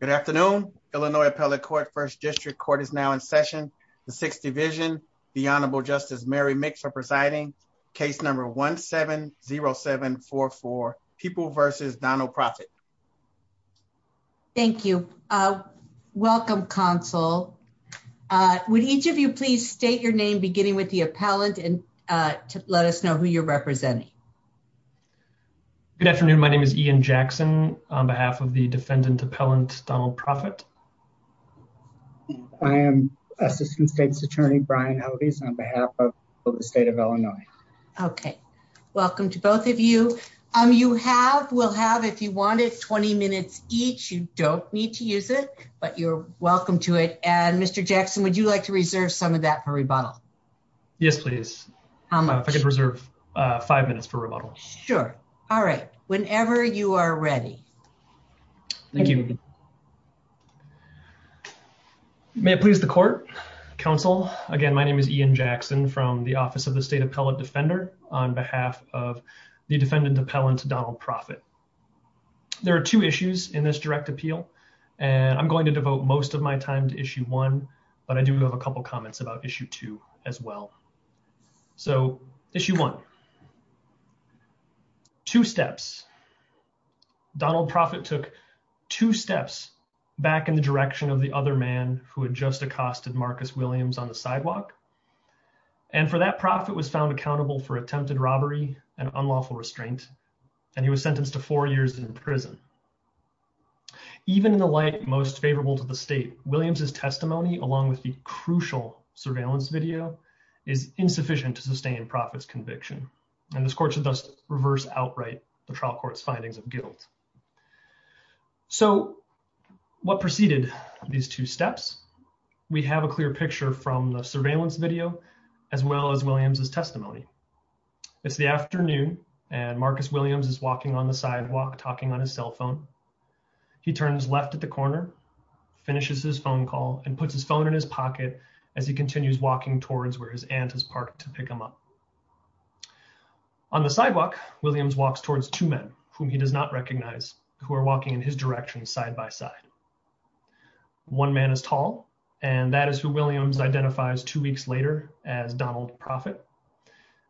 Good afternoon. Illinois Appellate Court First District Court is now in session. The Sixth Division, the Honorable Justice Mary Mix are presiding. Case number 1-7-0-7-4-4. People vs. Donald Profitt. Thank you. Welcome, counsel. Would each of you please state your name beginning with the appellant and let us know who you're representing. Good afternoon. My name is Ian Jackson on behalf of the defendant appellant Donald Profitt. I am Assistant State's Attorney Brian Hodes on behalf of the state of Illinois. Okay. Welcome to both of you. You have, will have if you want it, 20 minutes each. You don't need to use it, but you're welcome to it. And Mr. Jackson, would you like to reserve some of that for rebuttal? Yes, please. If I could reserve five minutes for rebuttal. Sure. All right. Whenever you are ready. Thank you. May it please the court. Counsel, again, my name is Ian Jackson from the Office of the State Appellant Defender on behalf of the defendant appellant Donald Profitt. There are two issues in this direct appeal and I'm going to devote most of my time to issue one, but I do have a Donald Profitt took two steps back in the direction of the other man who had just accosted Marcus Williams on the sidewalk and for that Profitt was found accountable for attempted robbery and unlawful restraint and he was sentenced to four years in prison. Even in the light most favorable to the state, Williams's testimony along with the crucial surveillance video is insufficient to sustain Profitt's conviction and this court should thus reverse outright the trial court's findings of guilt. So what preceded these two steps? We have a clear picture from the surveillance video as well as Williams's testimony. It's the afternoon and Marcus Williams is walking on the sidewalk talking on his cell phone. He turns left at the corner, finishes his phone call, and puts his phone in his pocket as he continues walking towards where his aunt has parked to pick him up. On the sidewalk Williams walks towards two men whom he does not recognize who are walking in his direction side-by-side. One man is tall and that is who Williams identifies two weeks later as Donald Profitt.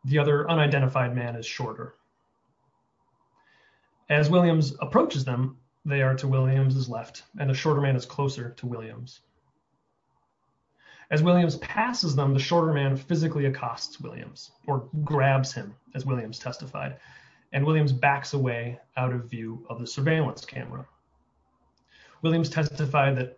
The other unidentified man is shorter. As Williams approaches them they are to Williams's left and the shorter man is closer to him. The shorter man physically accosts Williams or grabs him as Williams testified and Williams backs away out of view of the surveillance camera. Williams testified that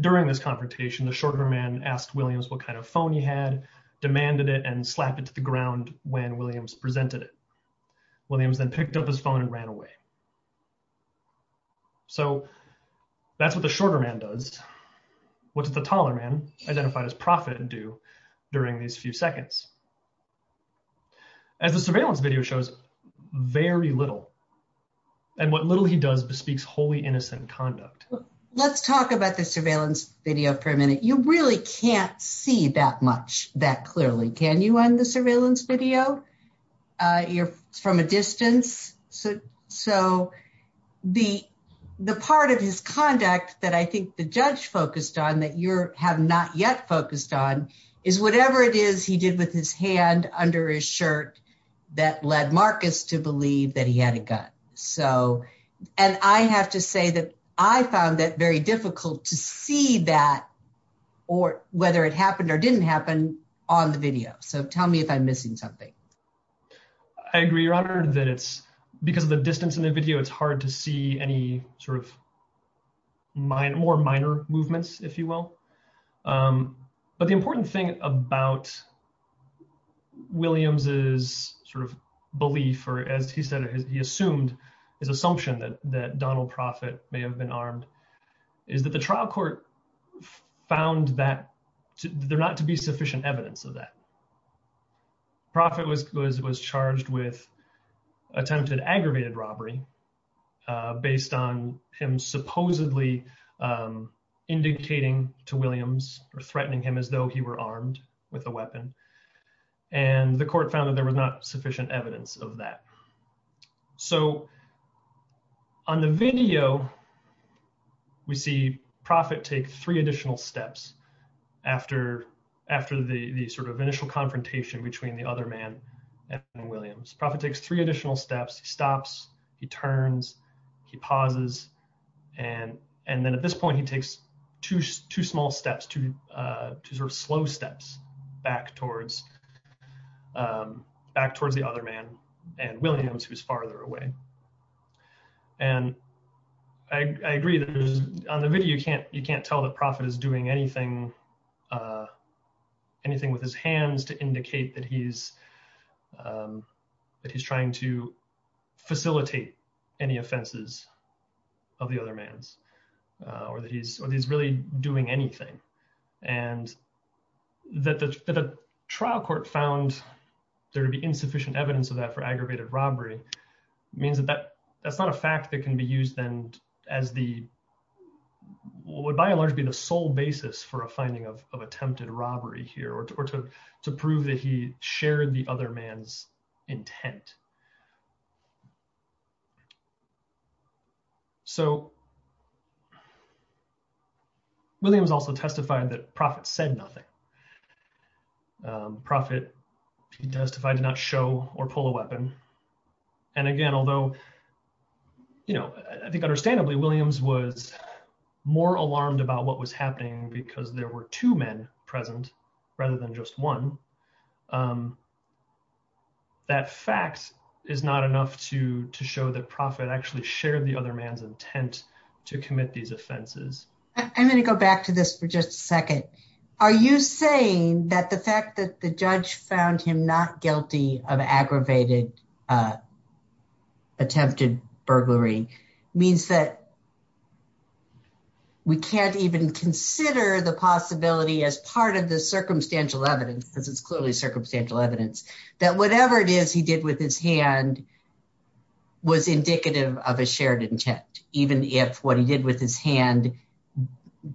during this confrontation the shorter man asked Williams what kind of phone he had, demanded it, and slapped it to the ground when Williams presented it. Williams then picked up his phone and ran away. So that's what the shorter man does. What did the taller man, identified as Profitt, do during these few seconds? As the surveillance video shows, very little. And what little he does bespeaks wholly innocent conduct. Let's talk about the surveillance video for a minute. You really can't see that much that clearly. Can you on the surveillance video? You're from a distance. So the part of his conduct that I think the judge focused on that you have not yet focused on is whatever it is he did with his hand under his shirt that led Marcus to believe that he had a gun. So and I have to say that I found that very difficult to see that or whether it happened or I'm missing something. I agree your honor that it's because of the distance in the video it's hard to see any sort of more minor movements if you will. But the important thing about Williams's sort of belief or as he said he assumed his assumption that Donald Profitt may have been armed is that the Profitt was charged with attempted aggravated robbery based on him supposedly indicating to Williams or threatening him as though he were armed with a weapon. And the court found that there was not sufficient evidence of that. So on the video we see Profitt take three additional steps after after the sort of initial confrontation between the other man and Williams. Profitt takes three additional steps. He stops, he turns, he pauses and and then at this point he takes two small steps, two sort of slow steps back towards back towards the other man and Williams who's farther away. And I agree that on the video you can't you can't tell that Profitt is doing anything anything with his hands to indicate that he's that he's trying to facilitate any offenses of the other man's or that he's really doing anything. And that the trial court found there to be insufficient evidence of that for aggravated robbery means that that that's not a fact that can be used then as the would by and large be the sole basis for a finding of attempted robbery here or to prove that he shared the other man's intent. So Williams also testified that Profitt said nothing. Profitt testified to not show or pull a that fact is not enough to to show that Profitt actually shared the other man's intent to commit these offenses. I'm going to go back to this for just a second. Are you saying that the fact that the judge found him not guilty of we can't even consider the possibility as part of the circumstantial evidence because it's clearly circumstantial evidence that whatever it is he did with his hand was indicative of a shared intent even if what he did with his hand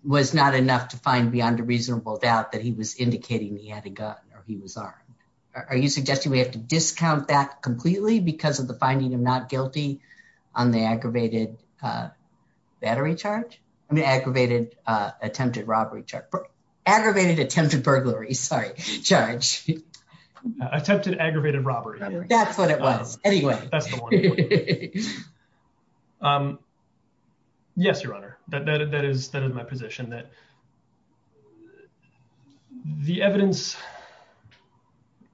was not enough to find beyond a reasonable doubt that he was indicating he had a gun or he was armed? Are you suggesting we have to discount that battery charge? I mean, aggravated attempted robbery, aggravated attempted burglary. Sorry, charge attempted aggravated robbery. That's what it was. Anyway, that's the one. Um, yes, Your Honor, that that is that is my position that the evidence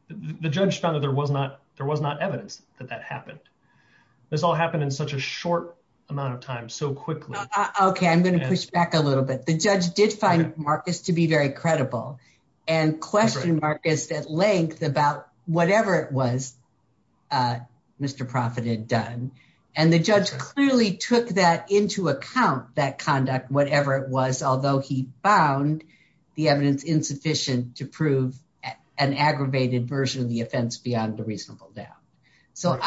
the judge found that there was not. There was not evidence that that happened in such a short amount of time so quickly. Okay, I'm going to push back a little bit. The judge did find Marcus to be very credible and questioned Marcus at length about whatever it was, uh, Mr Profitt had done, and the judge clearly took that into account that conduct, whatever it was, although he found the evidence insufficient to prove an aggravated version of the offense beyond a reasonable doubt. So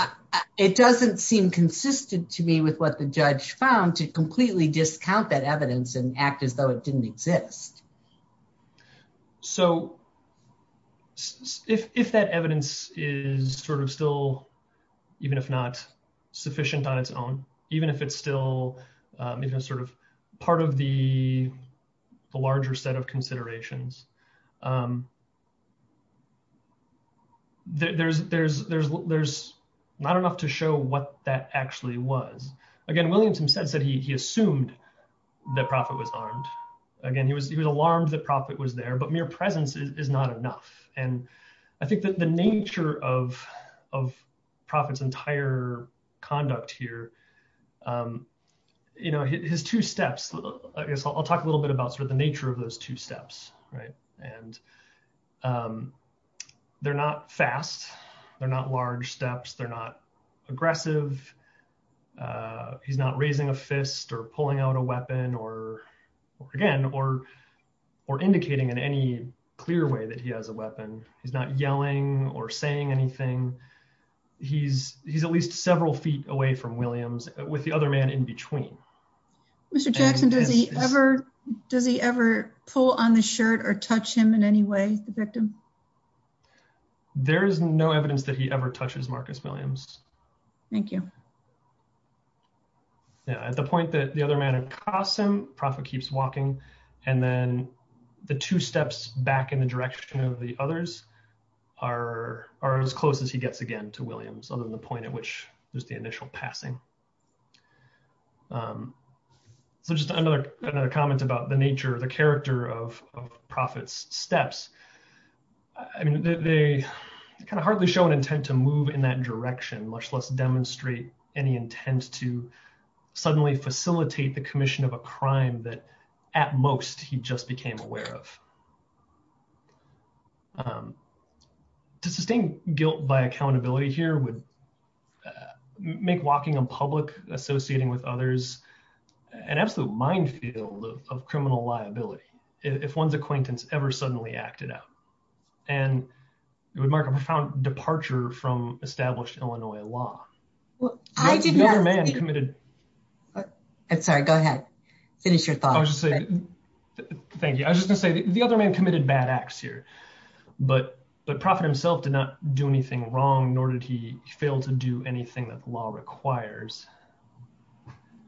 it doesn't seem consistent to me with what the judge found to completely discount that evidence and act as though it didn't exist. So if that evidence is sort of still, even if not sufficient on its own, even if it's still sort of part of the larger set of considerations, um, there's not enough to show what that actually was. Again, Williamson said he assumed that Profitt was armed. Again, he was alarmed that Profitt was there, but mere presence is not enough. And I think that the nature of Profitt's entire conduct here, um, you know, his two steps, I guess I'll talk a little bit about sort of the nature of those two they're not fast. They're not large steps. They're not aggressive. Uh, he's not raising a fist or pulling out a weapon or again, or, or indicating in any clear way that he has a weapon. He's not yelling or saying anything. He's, he's at least several feet away from Williams with the other man in between. Mr Jackson, does he ever, does he ever pull on the shirt or touch him in any way, the victim? There is no evidence that he ever touches Marcus Williams. Thank you. Yeah. At the point that the other man had crossed him, Profitt keeps walking. And then the two steps back in the direction of the others are, are as close as he gets again to Williams, other than the point at which there's the initial passing. Um, so just another, another comment about the nature of the character of Profitt's steps. I mean, they kind of hardly show an intent to move in that direction, much less demonstrate any intent to suddenly facilitate the commission of a crime that at most he just became aware of. Um, to sustain guilt by accountability here would make walking in public, associating with others, an absolute minefield of criminal liability if one's acquaintance ever suddenly acted out. And it would mark a profound departure from established Illinois law. The other man committed... I'm sorry, go ahead. Finish your thought. Thank you. I was just gonna say the other man committed bad acts here, but, but Profitt himself did not do anything wrong, nor did he fail to do anything that the law requires.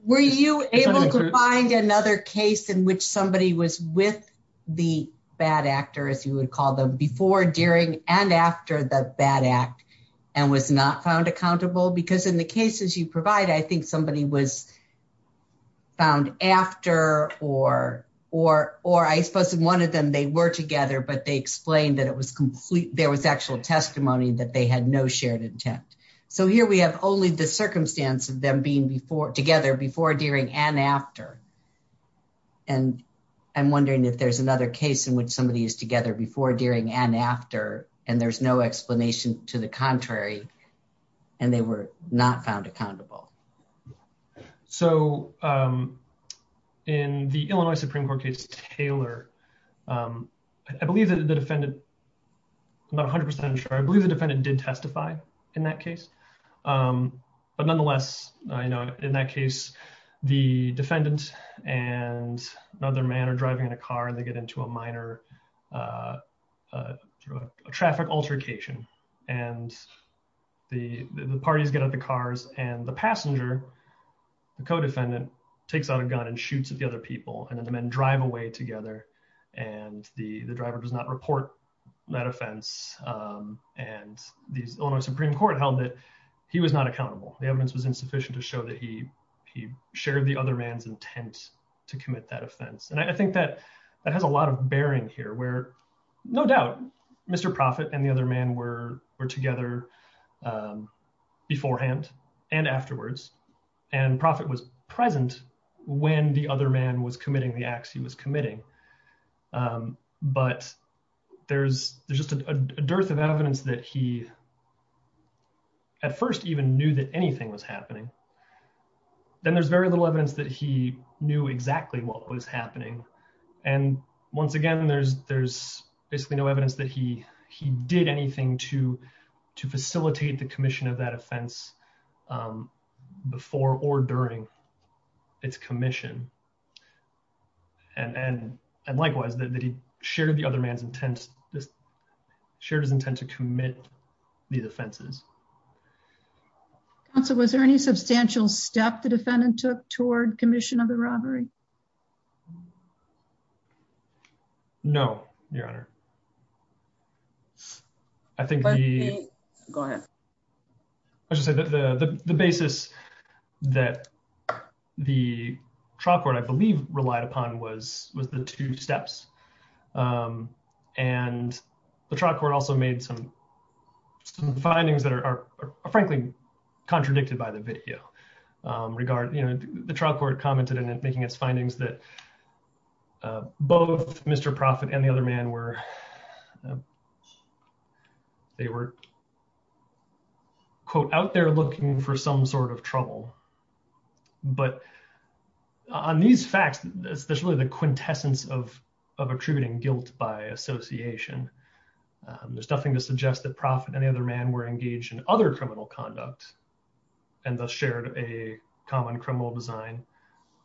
Were you able to find another case in which somebody was with the bad actor, as you would call them, before, during, and after the bad act and was not found accountable? Because in the cases you provide, I think somebody was found after, or, or, or I suppose in one of them they were together, but they gave testimony that they had no shared intent. So here we have only the circumstance of them being before, together, before, during, and after. And I'm wondering if there's another case in which somebody is together before, during, and after, and there's no explanation to the contrary, and they were not found accountable. So, um, in the Illinois Supreme Court case, Taylor, um, I believe that the defendant, I'm 100% sure, I believe the defendant did testify in that case. But nonetheless, you know, in that case, the defendant and another man are driving in a car and they get into a minor traffic altercation. And the parties get out the cars and the passenger, the co-defendant, takes out a gun and shoots at the other people. And then the men drive away together. And the driver does not report that offense. And the Illinois Supreme Court held that he was not accountable. The evidence was insufficient to show that he, he shared the other man's intent to commit that offense. And I think that that has a lot of bearing here where no doubt, Mr. Proffitt and the other man were, were together beforehand, and afterwards. And Proffitt was present when the other man was committing the acts he was committing. But there's, there's just a dearth of evidence that he, at first even knew that anything was happening. Then there's very little evidence that he knew exactly what was happening. And once again, there's, there's basically no evidence that he, he did anything to, to facilitate the And likewise, that he shared the other man's intent, shared his intent to commit these offenses. Counsel, was there any substantial step the defendant took toward commission of the robbery? No, Your Honor. I think, Go ahead. I should say that the basis that the trial court, I believe, relied upon was was the two steps. And the trial court also made some, some findings that are frankly, contradicted by the video regard, you know, the trial court commented in making its findings that both Mr. Proffitt and the other man were, they were, quote, out there looking for some sort of trouble. But on these facts, there's really the quintessence of, of attributing guilt by association. There's nothing to suggest that Proffitt and the other man were engaged in other criminal conduct, and thus shared a common criminal design.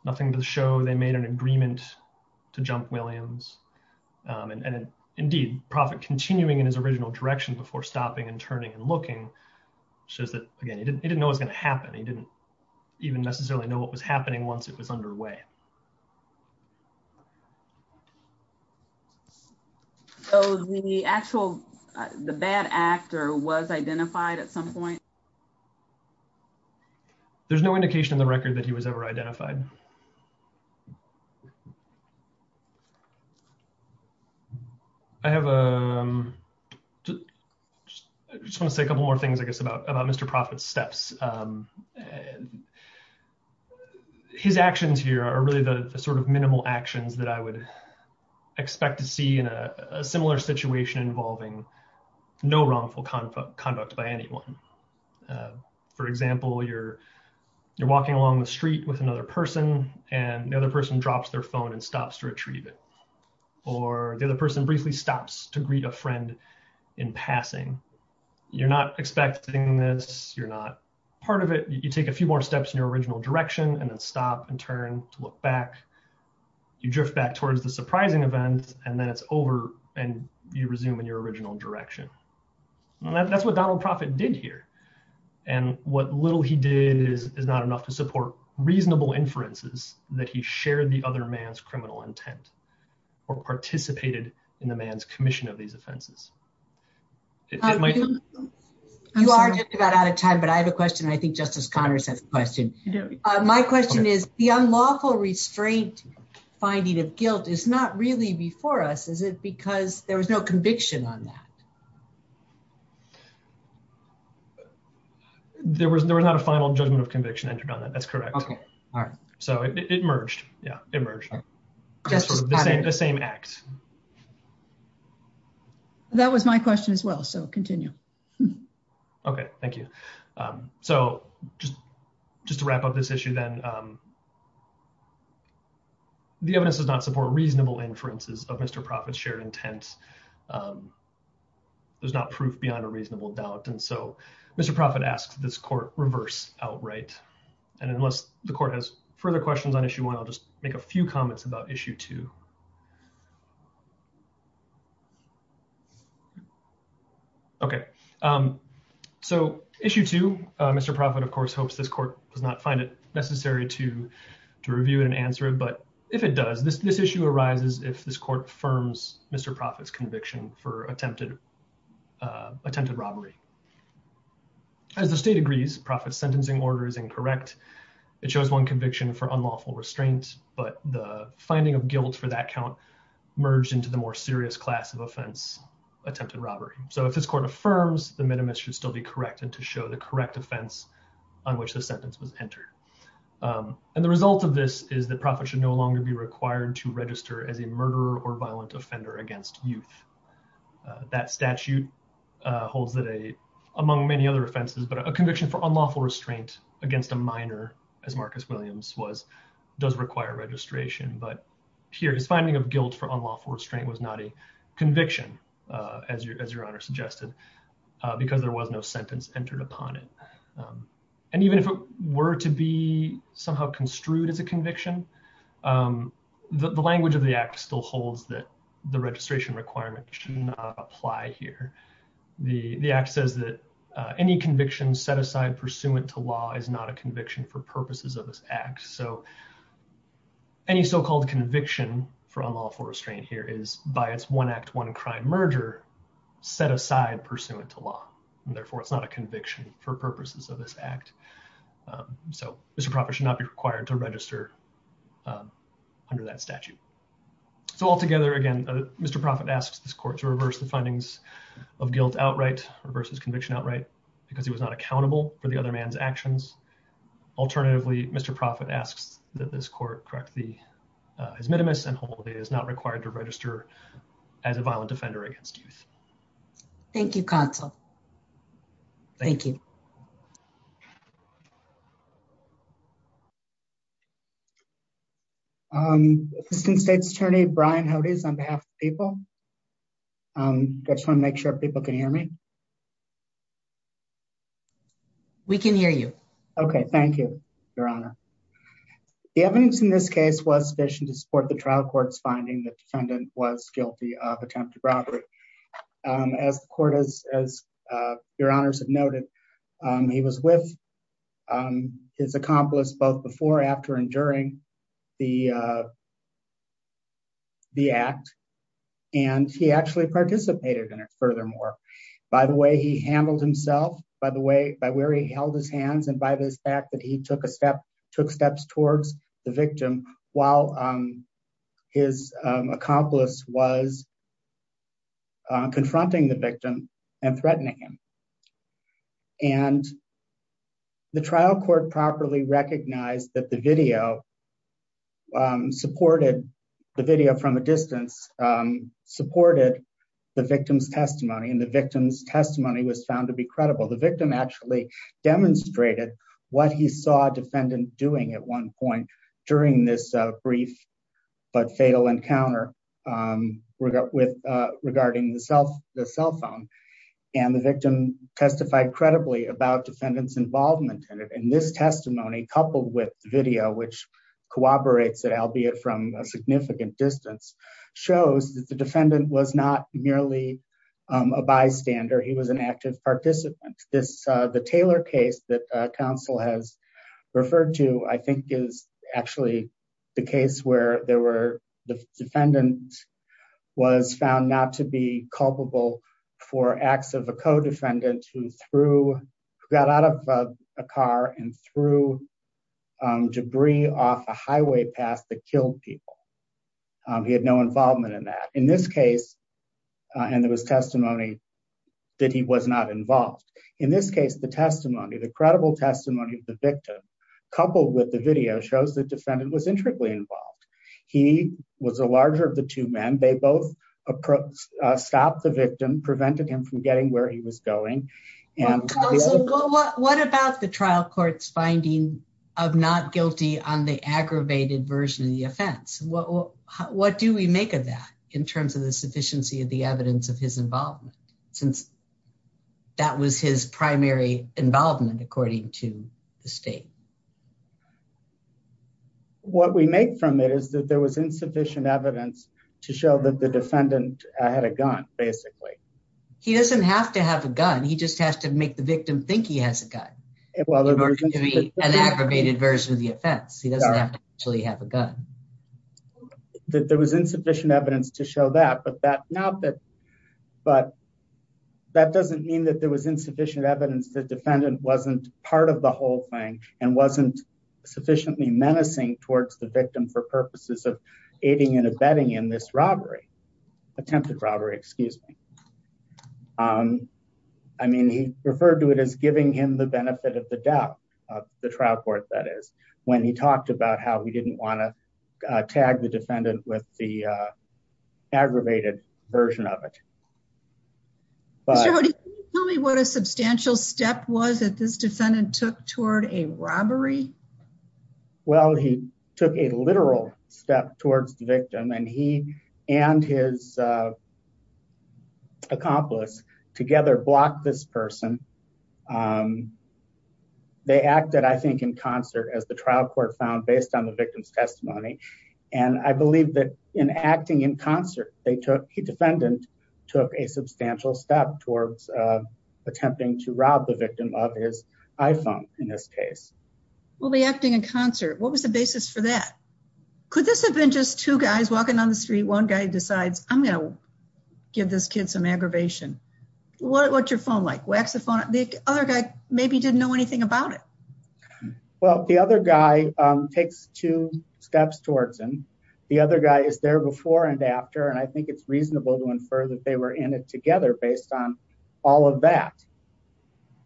Nothing to show they made an agreement to jump Williams. And indeed, Proffitt continuing in his original direction before stopping and turning and looking, shows that, again, he didn't, he didn't know what's going to happen. He didn't even necessarily know what was happening once it was underway. So the actual, the bad actor was identified at some point? There's no indication in the record that he was ever identified. I have a, just want to say a couple more things, I guess, about, about Mr. Proffitt's steps. His actions here are really the sort of minimal actions that I would expect to see in a similar situation involving no wrongful conduct by anyone. For example, you're, you're walking along the street with another person, and the other person drops their phone and stops to retrieve it. Or the other person briefly stops to greet a friend in passing. You're not expecting this, you're not part of it, you take a few more steps in your original direction, and then stop and turn to look back. You drift back towards the surprising event, and then it's over, and you resume in your original direction. And that's what Donald Proffitt did here. And what little he did is, is not enough to support reasonable inferences that he shared the other man's criminal intent, or participated in the man's commission of these offenses. You are just about out of time, but I have a question, and I think Justice Connors has a question. My question is, the unlawful restraint finding of guilt is not really before us, is it? Because there was no conviction on that. There was, there was not a final judgment of conviction entered on that, that's correct. Okay, all right. So it merged, yeah, it merged. Justice Connors. The same act. That was my question as well, so continue. Okay, thank you. So just, just to wrap up this issue then, the evidence does not support reasonable inferences of Mr. Proffitt's shared intent. There's not proof beyond a reasonable doubt, and so Mr. Proffitt asks this court reverse outright. And unless the court has further questions on issue one, I'll just make a few comments. Okay, so issue two, Mr. Proffitt, of course, hopes this court does not find it necessary to review it and answer it, but if it does, this issue arises if this court affirms Mr. Proffitt's conviction for attempted, attempted robbery. As the state agrees, Proffitt's sentencing order is incorrect. It shows one conviction for unlawful restraint, but the finding of guilt for that count merged into the more serious class of offense, attempted robbery. So if this court affirms, the minimus should still be correct and to show the correct offense on which the sentence was entered. And the result of this is that Proffitt should no longer be required to register as a murderer or violent offender against youth. That statute holds that a, among many other against a minor, as Marcus Williams was, does require registration, but here his finding of guilt for unlawful restraint was not a conviction, as your, as your honor suggested, because there was no sentence entered upon it. And even if it were to be somehow construed as a conviction, the language of the act still holds that the registration requirement should not apply here. The, the act says that any conviction set aside pursuant to law is not a conviction for purposes of this act. So any so-called conviction for unlawful restraint here is by its one act, one crime merger set aside pursuant to law. And therefore it's not a conviction for purposes of this act. So Mr. Proffitt should not be required to register under that statute. So altogether, again, Mr. Proffitt asks this court to reverse the findings of guilt outright, reverses conviction outright, because he was not accountable for the other man's actions. Alternatively, Mr. Proffitt asks that this court correct the, his minimus and hold that he is not required to register as a violent offender against youth. Thank you, counsel. Thank you. Um, Assistant State's Attorney Brian Hodes on behalf of the people. Um, I just want to make sure people can hear me. We can hear you. Okay. Thank you, Your Honor. The evidence in this case was sufficient to support the trial court's finding the defendant was guilty of attempted robbery. Um, as the court has, uh, your honors have noted, um, he was with, um, his accomplice both before, after, and during the, uh, the act. And he actually participated in it furthermore by the way he handled himself, by the way, by where he held his hands. And by this fact that he took a step, took steps towards the victim while, um, his, um, accomplice was uh, confronting the victim and threatening him. And the trial court properly recognized that the video, um, supported the video from a distance, um, supported the victim's testimony and the victim's testimony was found to be credible. The victim actually demonstrated what he saw defendant doing at one point during this brief, but fatal encounter, um, with, uh, regarding the cell, the cell phone and the victim testified credibly about defendant's involvement in it. And this testimony coupled with video, which corroborates it, albeit from a significant distance shows that the defendant was not merely, um, a bystander. He was an active participant. This, uh, the Taylor case that, uh, counsel has referred to, I think is actually the case where there were the defendant was found not to be culpable for acts of a co-defendant who threw, who got out of a car and threw, um, debris off a highway path that killed people. He had no involvement in that. In this case, uh, and there was testimony that he was not involved. In this case, the testimony, the credible testimony of the victim coupled with the video shows that defendant was intricately involved. He was a larger of the two men. They both stopped the victim, prevented him from getting where he was going. What about the trial court's finding of not guilty on the aggravated version of the offense? What, what do we make of that in terms of the sufficiency of the evidence of his involvement? Since that was his primary involvement, according to the state. What we make from it is that there was insufficient evidence to show that the defendant had a gun, basically. He doesn't have to have a gun. He just has to make the victim think he has a gun. An aggravated version of the offense. He doesn't actually have a gun. That there was insufficient evidence to show that, but that now that, but that doesn't mean that there was insufficient evidence. The defendant wasn't part of the whole thing and wasn't sufficiently menacing towards the victim for purposes of aiding and abetting in this robbery, attempted robbery, excuse me. Um, I mean, he referred to it as giving him the benefit of the doubt of the trial court. That is when he talked about how he didn't want to tag the defendant with the aggravated version of it. Tell me what a substantial step was that this defendant took toward a robbery. Well, he took a literal step towards the victim and he and his accomplice together blocked this person. Um, they acted, I think, in concert as the trial court found based on the victim's testimony. And I believe that in acting in concert, they took, he defendant took a substantial step towards attempting to rob the victim of his iPhone, in this case. Well, the acting in concert, what was the basis for that? Could this have been just two guys walking down the street? One guy decides, I'm going to give this kid some aggravation. What's your phone like? Wax the phone? The other guy maybe didn't know anything about it. Well, the other guy takes two steps towards him. The other guy is there before and after, and I think it's reasonable to infer that they were in it together based on all of that.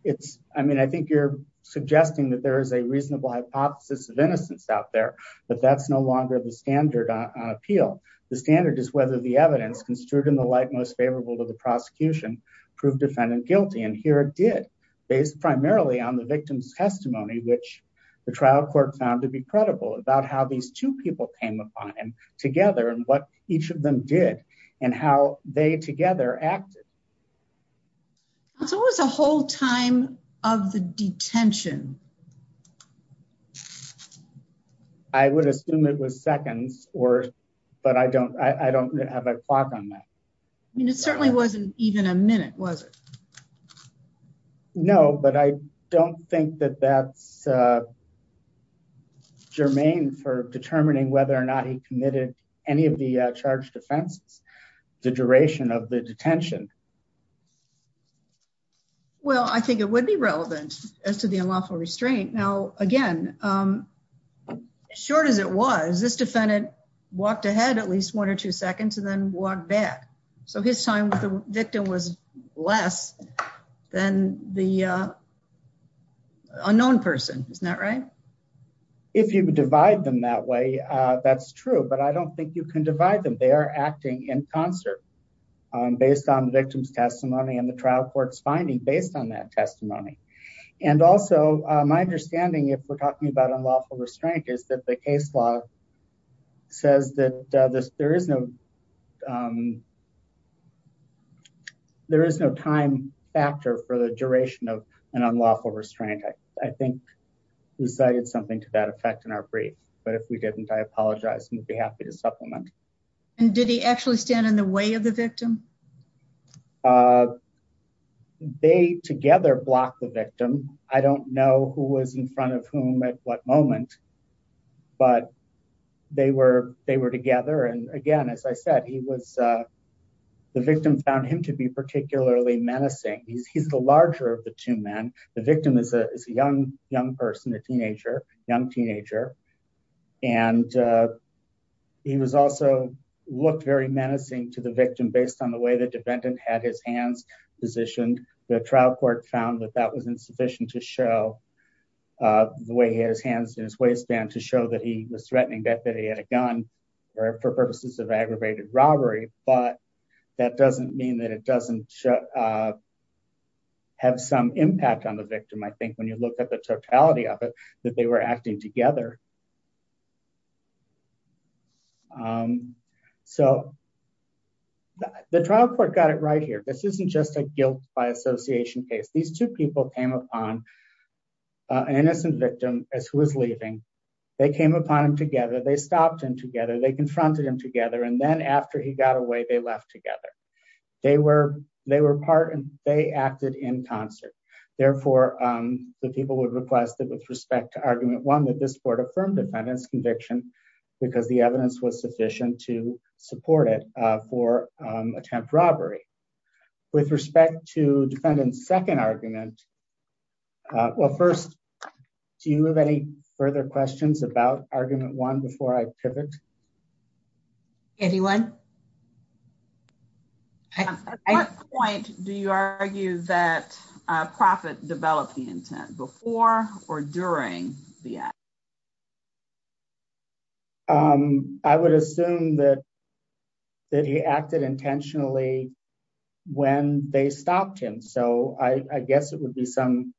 It's, I mean, I think you're suggesting that there is a reasonable hypothesis of innocence out there, but that's no longer the standard on appeal. The standard is whether the evidence construed in the light most favorable to the prosecution proved defendant guilty. And here it did based primarily on the victim's testimony, which the trial court found to be credible about how these two people came upon him together and what each of them did and how they together acted. It's always a whole of the detention. I would assume it was seconds or, but I don't, I don't have a clock on that. I mean, it certainly wasn't even a minute, was it? No, but I don't think that that's germane for determining whether or not he committed any of the charged offenses, the duration of the detention. Well, I think it would be relevant as to the unlawful restraint. Now, again, as short as it was, this defendant walked ahead at least one or two seconds and then walked back. So his time with the victim was less than the unknown person. Isn't that right? If you divide them that way, that's true, but I don't think you can divide them. They are acting in concert based on the victim's testimony and the trial court's finding based on that testimony. And also my understanding, if we're talking about unlawful restraint is that the case law says that there is no, there is no time factor for the duration of an unlawful restraint. I think we cited something to that effect in our brief, but if we didn't, I apologize. We'd be happy to supplement. And did he actually stand in the way of the victim? They together blocked the victim. I don't know who was in front of whom at what moment, but they were together. And again, as I said, he was, the victim found him to be particularly menacing. He's the larger of the two men. The victim is a young person, a teenager, young teenager. And he was also looked very menacing to the victim based on the way the defendant had his hands positioned. The trial court found that that was insufficient to show the way his hands and his waistband to show that he was threatening that he had a gun for purposes of aggravated robbery. But that doesn't mean that it doesn't have some impact on the victim. I think when you look at the totality of it, that they were acting together. So the trial court got it right here. This isn't just a guilt by association case. These two people came upon an innocent victim as who was leaving. They came upon him together. They stopped him together. They confronted him together. And then after he got away, they left together. They were part and they acted in concert. Therefore, the people would request that with respect to argument one, that this court affirmed defendant's conviction because the evidence was sufficient to support it for attempt robbery. With respect to defendant's second argument, well, first, do you have any further questions about argument one before I pivot? Anyone? At what point do you argue that Proffitt developed the intent before or during the act? I would assume that he acted intentionally when they stopped him. So I guess it would be some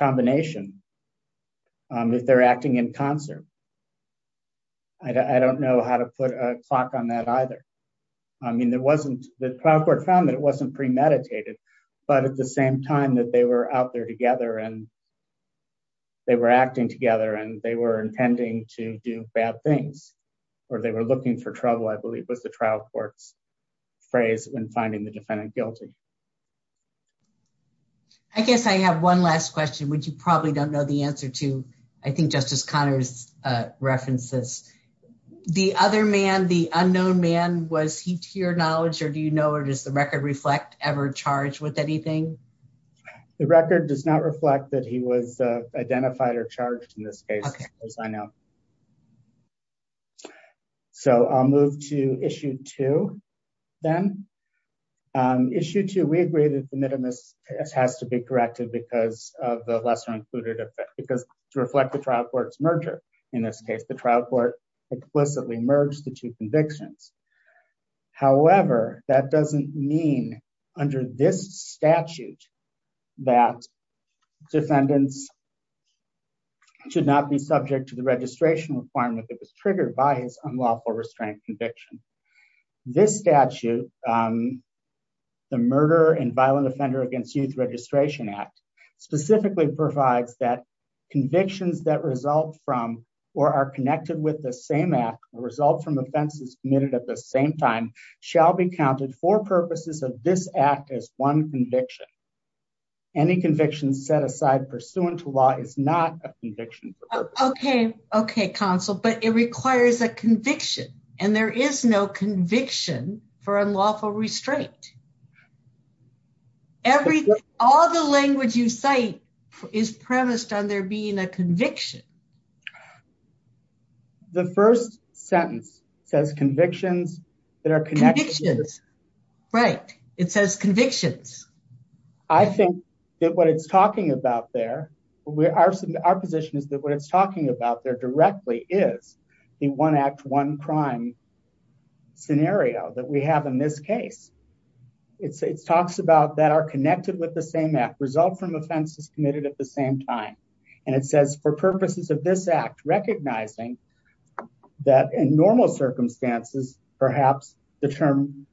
either. I mean, the trial court found that it wasn't premeditated, but at the same time that they were out there together and they were acting together and they were intending to do bad things or they were looking for trouble, I believe was the trial court's phrase when finding the defendant guilty. I guess I have one last question, which you probably don't know the answer to. I think Justice Connors referenced this. The other man, the unknown man, was he to your knowledge or do you know or does the record reflect ever charged with anything? The record does not reflect that he was identified or charged in this case, as I know. So I'll move to issue two then. Issue two, we agree that the minimus has to be corrected because of the lesser included effect, because to reflect the trial court's merger. In this case, the trial court explicitly merged the two convictions. However, that doesn't mean under this statute that defendants should not be subject to the registration requirement that was triggered by his unlawful restraint conviction. This statute, the Murder and Violent Offender Against Youth Registration Act, specifically provides that convictions that result from or are connected with the same act or result from offenses committed at the same time shall be counted for purposes of this act as one conviction. Any convictions set aside pursuant to law is not a conviction. Okay, counsel, but it requires a conviction and there is no conviction for unlawful restraint. Everything, all the language you cite is premised on there being a conviction. The first sentence says convictions that are connected. Convictions, right. It says convictions. I think that what it's talking about there, our position is that what it's talking about there directly is the one act, one crime scenario that we have in this case. It talks about that are connected with the same act result from offenses committed at the same time. And it says for purposes of this act, recognizing that in normal circumstances, perhaps the term,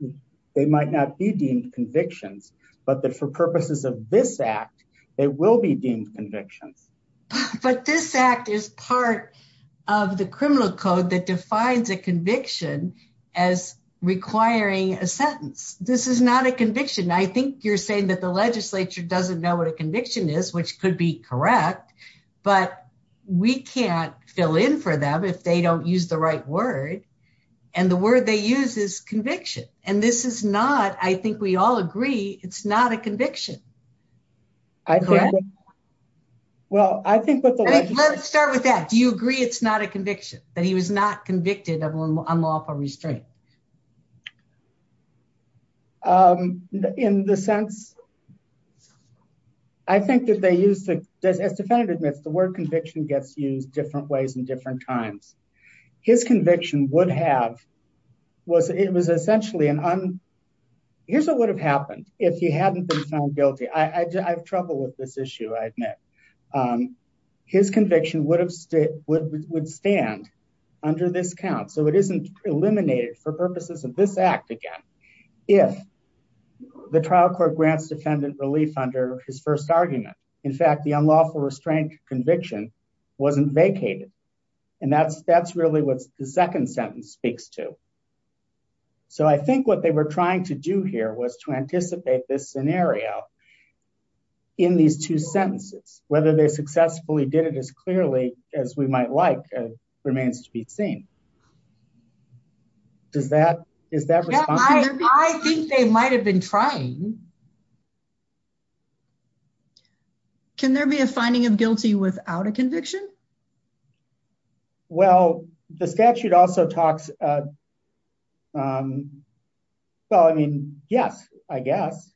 they might not be deemed convictions, but that for purposes of this act, they will be deemed convictions. But this act is part of the criminal code that defines a conviction as requiring a sentence. This is not a conviction. I think you're saying that the legislature doesn't know what a conviction is, which could be correct, but we can't fill in for them if they don't use the right word. And the word they use is conviction. And this is not, I think we all agree, it's not a conviction. Let's start with that. Do you agree it's not a conviction that he was not convicted of unlawful restraint? In the sense, I think that they use the, as the defendant admits, the word conviction gets used different ways in different times. His conviction would have was, it was essentially an here's what would have happened if he hadn't been found guilty. I have trouble with this issue, I admit. His conviction would have stood, would stand under this count. So it isn't eliminated for purposes of this act again, if the trial court grants defendant relief under his first argument. In fact, the unlawful restraint conviction wasn't vacated. And that's really what the second sentence speaks to. So I think what they were trying to do here was to anticipate this scenario in these two sentences, whether they successfully did it as clearly as we might like remains to be seen. Does that, is that, I think they might've been trying. Can there be a finding of guilty without a conviction? Well, the statute also talks, well, I mean, yes, I guess.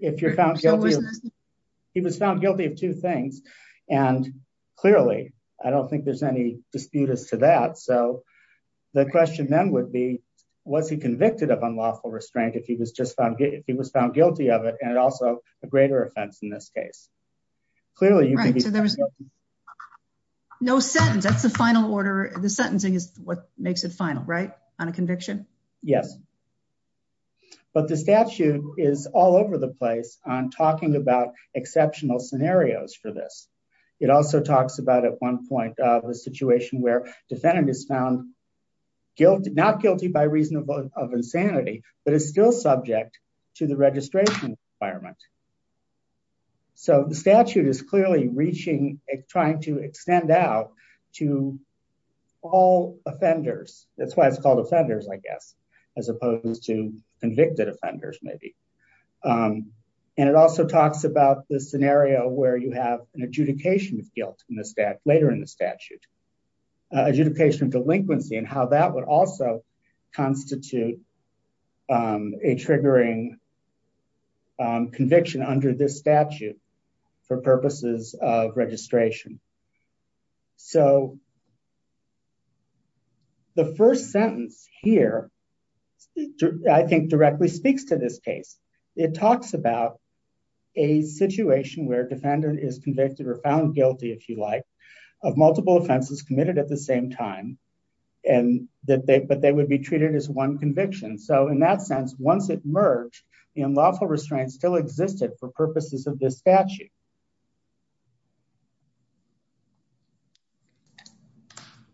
If you're found guilty, he was found guilty of two things. And clearly, I don't think there's any disputes to that. So the question then would be, was he convicted of unlawful restraint if he was just found, if he was found guilty of it, and also a greater offense in this case, clearly. Right, so there was no sentence. That's the final order. The sentencing is what makes it final, right? On a conviction? Yes. But the statute is all over the place on talking about exceptional scenarios for this. It also talks about at one point of the situation where defendant is found not guilty by reason of insanity, but is still subject to the registration environment. So the statute is clearly reaching, trying to extend out to all offenders. That's why it's called offenders, I guess, as opposed to convicted offenders, maybe. And it also talks about the scenario where you have an adjudication of guilt in the statute, later in the statute, adjudication of delinquency and how that would also constitute a triggering conviction under this statute for purposes of registration. So the first sentence here, I think directly speaks to this case. It talks about a situation where a defendant is convicted or found guilty, if you like, of multiple offenses committed at the same time, but they would be treated as one conviction. So in that sense, once it merged, the unlawful restraints still existed for purposes of this statute.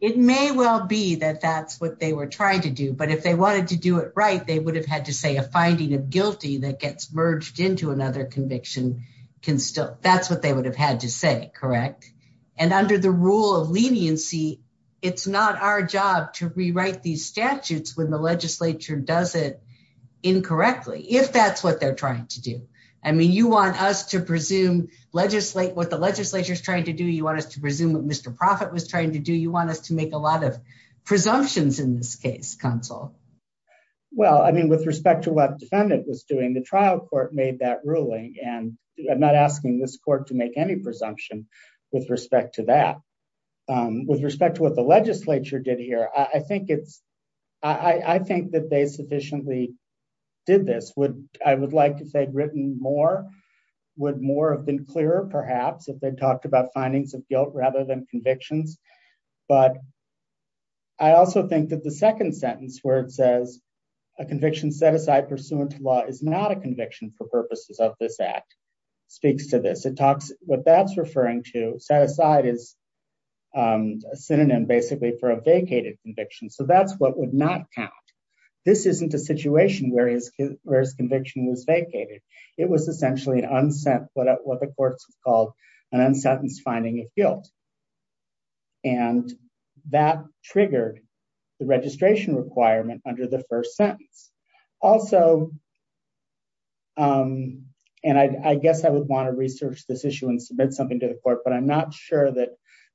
It may well be that that's what they were trying to do, but if they wanted to do it right, they would have had to say a finding of guilty that gets merged into another conviction. That's what they would have had to say, correct? And under the rule of leniency, it's not our job to rewrite these statutes when the legislature does it incorrectly, if that's what they're trying to do. I mean, you want us to presume what the legislature's trying to do. You want us to presume what Mr. Profitt was trying to do. You want us to make a lot of presumptions in this case, counsel. Well, I mean, with respect to what the defendant was doing, the trial court made that ruling, and I'm not asking this court to make any presumption with respect to that. With respect to what the legislature did here, I think that they sufficiently did this. I would like to say written more, would more have been clearer perhaps if they'd talked about findings of guilt rather than convictions. But I also think that the second sentence where it says, a conviction set aside pursuant to law is not a conviction for purposes of this act, speaks to this. What that's referring to, set aside is a synonym basically for a vacated conviction. So that's what would not count. This isn't a situation where his conviction was vacated. It was essentially an unsent, what the courts have called an unsentence finding of guilt. And that triggered the registration requirement under the first sentence. Also, and I guess I would want to research this issue and submit something to the court, but I'm not sure that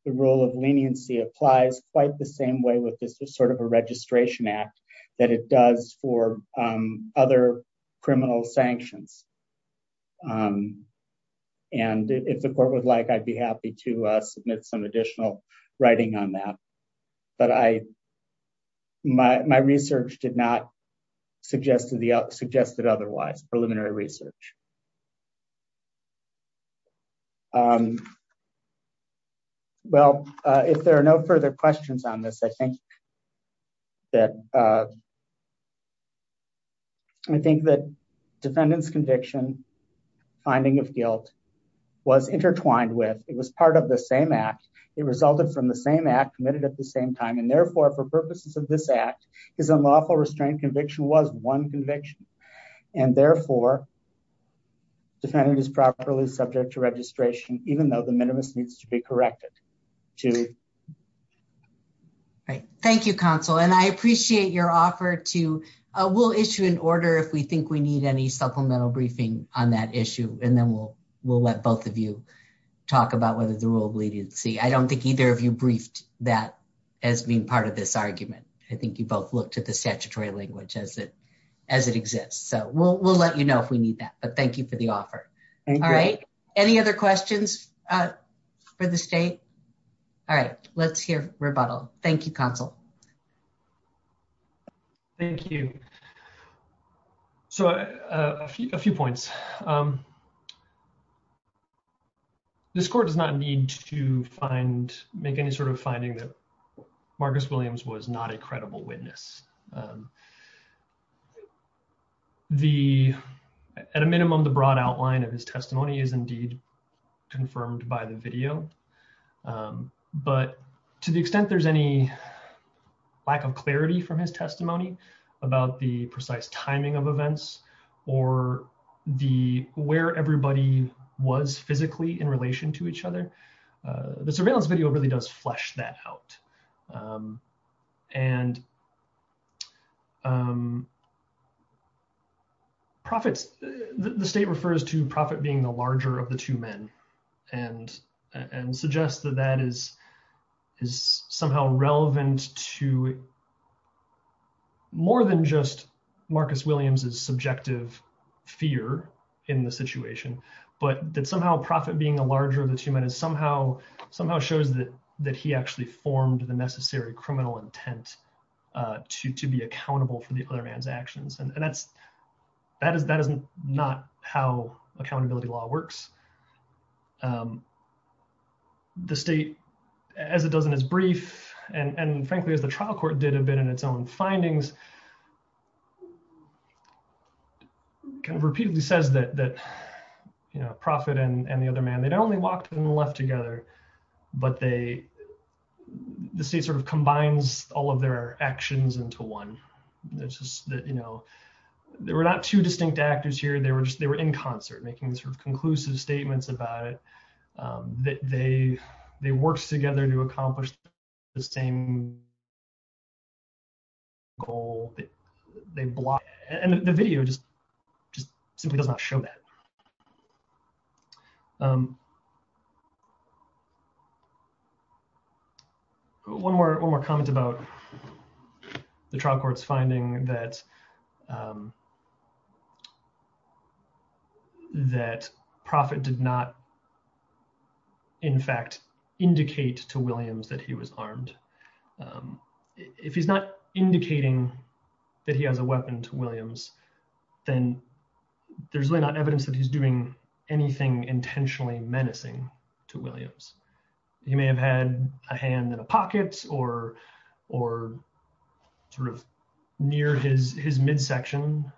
the rule of leniency applies quite the same way with this sort of a registration act that it does for other criminal sanctions. And if the court would like, I'd be happy to submit some additional writing on that. But my research did not do that. Well, if there are no further questions on this, I think that defendant's conviction finding of guilt was intertwined with, it was part of the same act. It resulted from the same act committed at the same time. And therefore, for purposes of this act, his unlawful restraint conviction was one conviction. And therefore, defendant is subject to registration, even though the minimus needs to be corrected. Right. Thank you, counsel. And I appreciate your offer to, we'll issue an order if we think we need any supplemental briefing on that issue. And then we'll let both of you talk about whether the rule of leniency, I don't think either of you briefed that as being part of this argument. I think you both looked at the statutory language as it exists. So we'll let you know if we need that. But thank you for the offer. All right. Any other questions for the state? All right. Let's hear rebuttal. Thank you, counsel. Thank you. So a few points. This court does not need to make any sort of finding that Marcus Williams was not a criminal. At a minimum, the broad outline of his testimony is indeed confirmed by the video. But to the extent there's any lack of clarity from his testimony about the precise timing of events, or where everybody was physically in relation to each other, the surveillance video really does flesh that out. And profits, the state refers to profit being the larger of the two men, and suggest that that is is somehow relevant to more than just Marcus Williams's subjective fear in the situation, but that somehow profit being a larger of the two men is somehow shows that he actually formed the necessary criminal intent to be accountable for the other man's actions. And that's, that is, that is not how accountability law works. The state, as it does in his brief, and frankly, as the trial court did a bit in its own findings, kind of repeatedly says that, you know, profit and the other man, they not only walked and left together, but they, the state sort of combines all of their actions into one. It's just that, you know, there were not two distinct actors here. They were just, they were in concert making sort of conclusive statements about it, that they, they worked together to accomplish the same goal. They block, and the video just, just simply does not show that. One more, one more comment about the trial court's finding that, that profit did not, in fact, indicate to Williams that he was armed. If he's not indicating that he has a weapon to Williams, then there's really not evidence that he's doing anything intentionally menacing to Williams. He may have had a hand in a pocket or, or sort of near his, his midsection.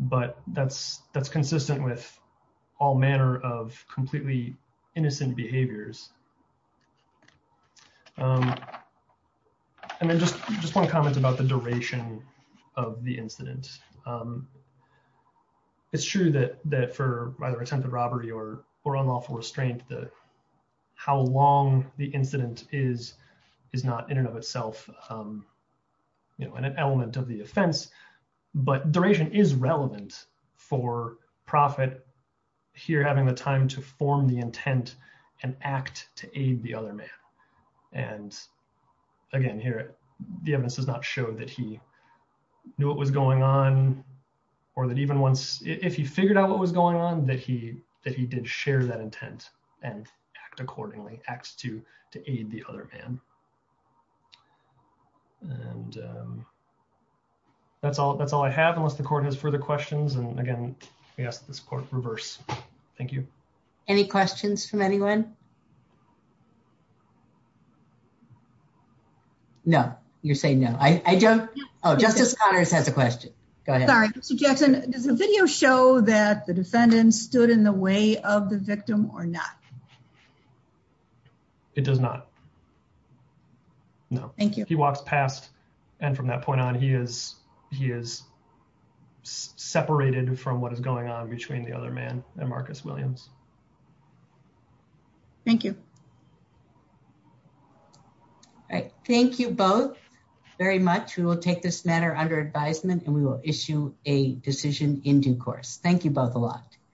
But that's, that's consistent with all manner of completely innocent behaviors. And then just, just one comment about the duration of the incident. It's true that, that for either attempted robbery or, or unlawful restraint, the, how long the incident is, is not in and of itself, you know, an element of the offense. But duration is relevant for profit here having the time to form the intent and act to aid the knew what was going on, or that even once, if he figured out what was going on, that he, that he did share that intent and act accordingly, acts to, to aid the other man. And that's all, that's all I have, unless the court has further questions. And again, we ask this court reverse. Thank you. Any questions from anyone? No, you're saying no, I don't. Oh, Justice Connors has a question. Go ahead. Sorry, Mr. Jackson, does the video show that the defendant stood in the way of the victim or not? It does not. No, thank you. He walks past. And from that point on, he is, he is separated from what is going on between the other man and Marcus Williams. Thank you. All right. Thank you both very much. We will take this matter under advisement and we will issue a decision in due course. Thank you both a lot.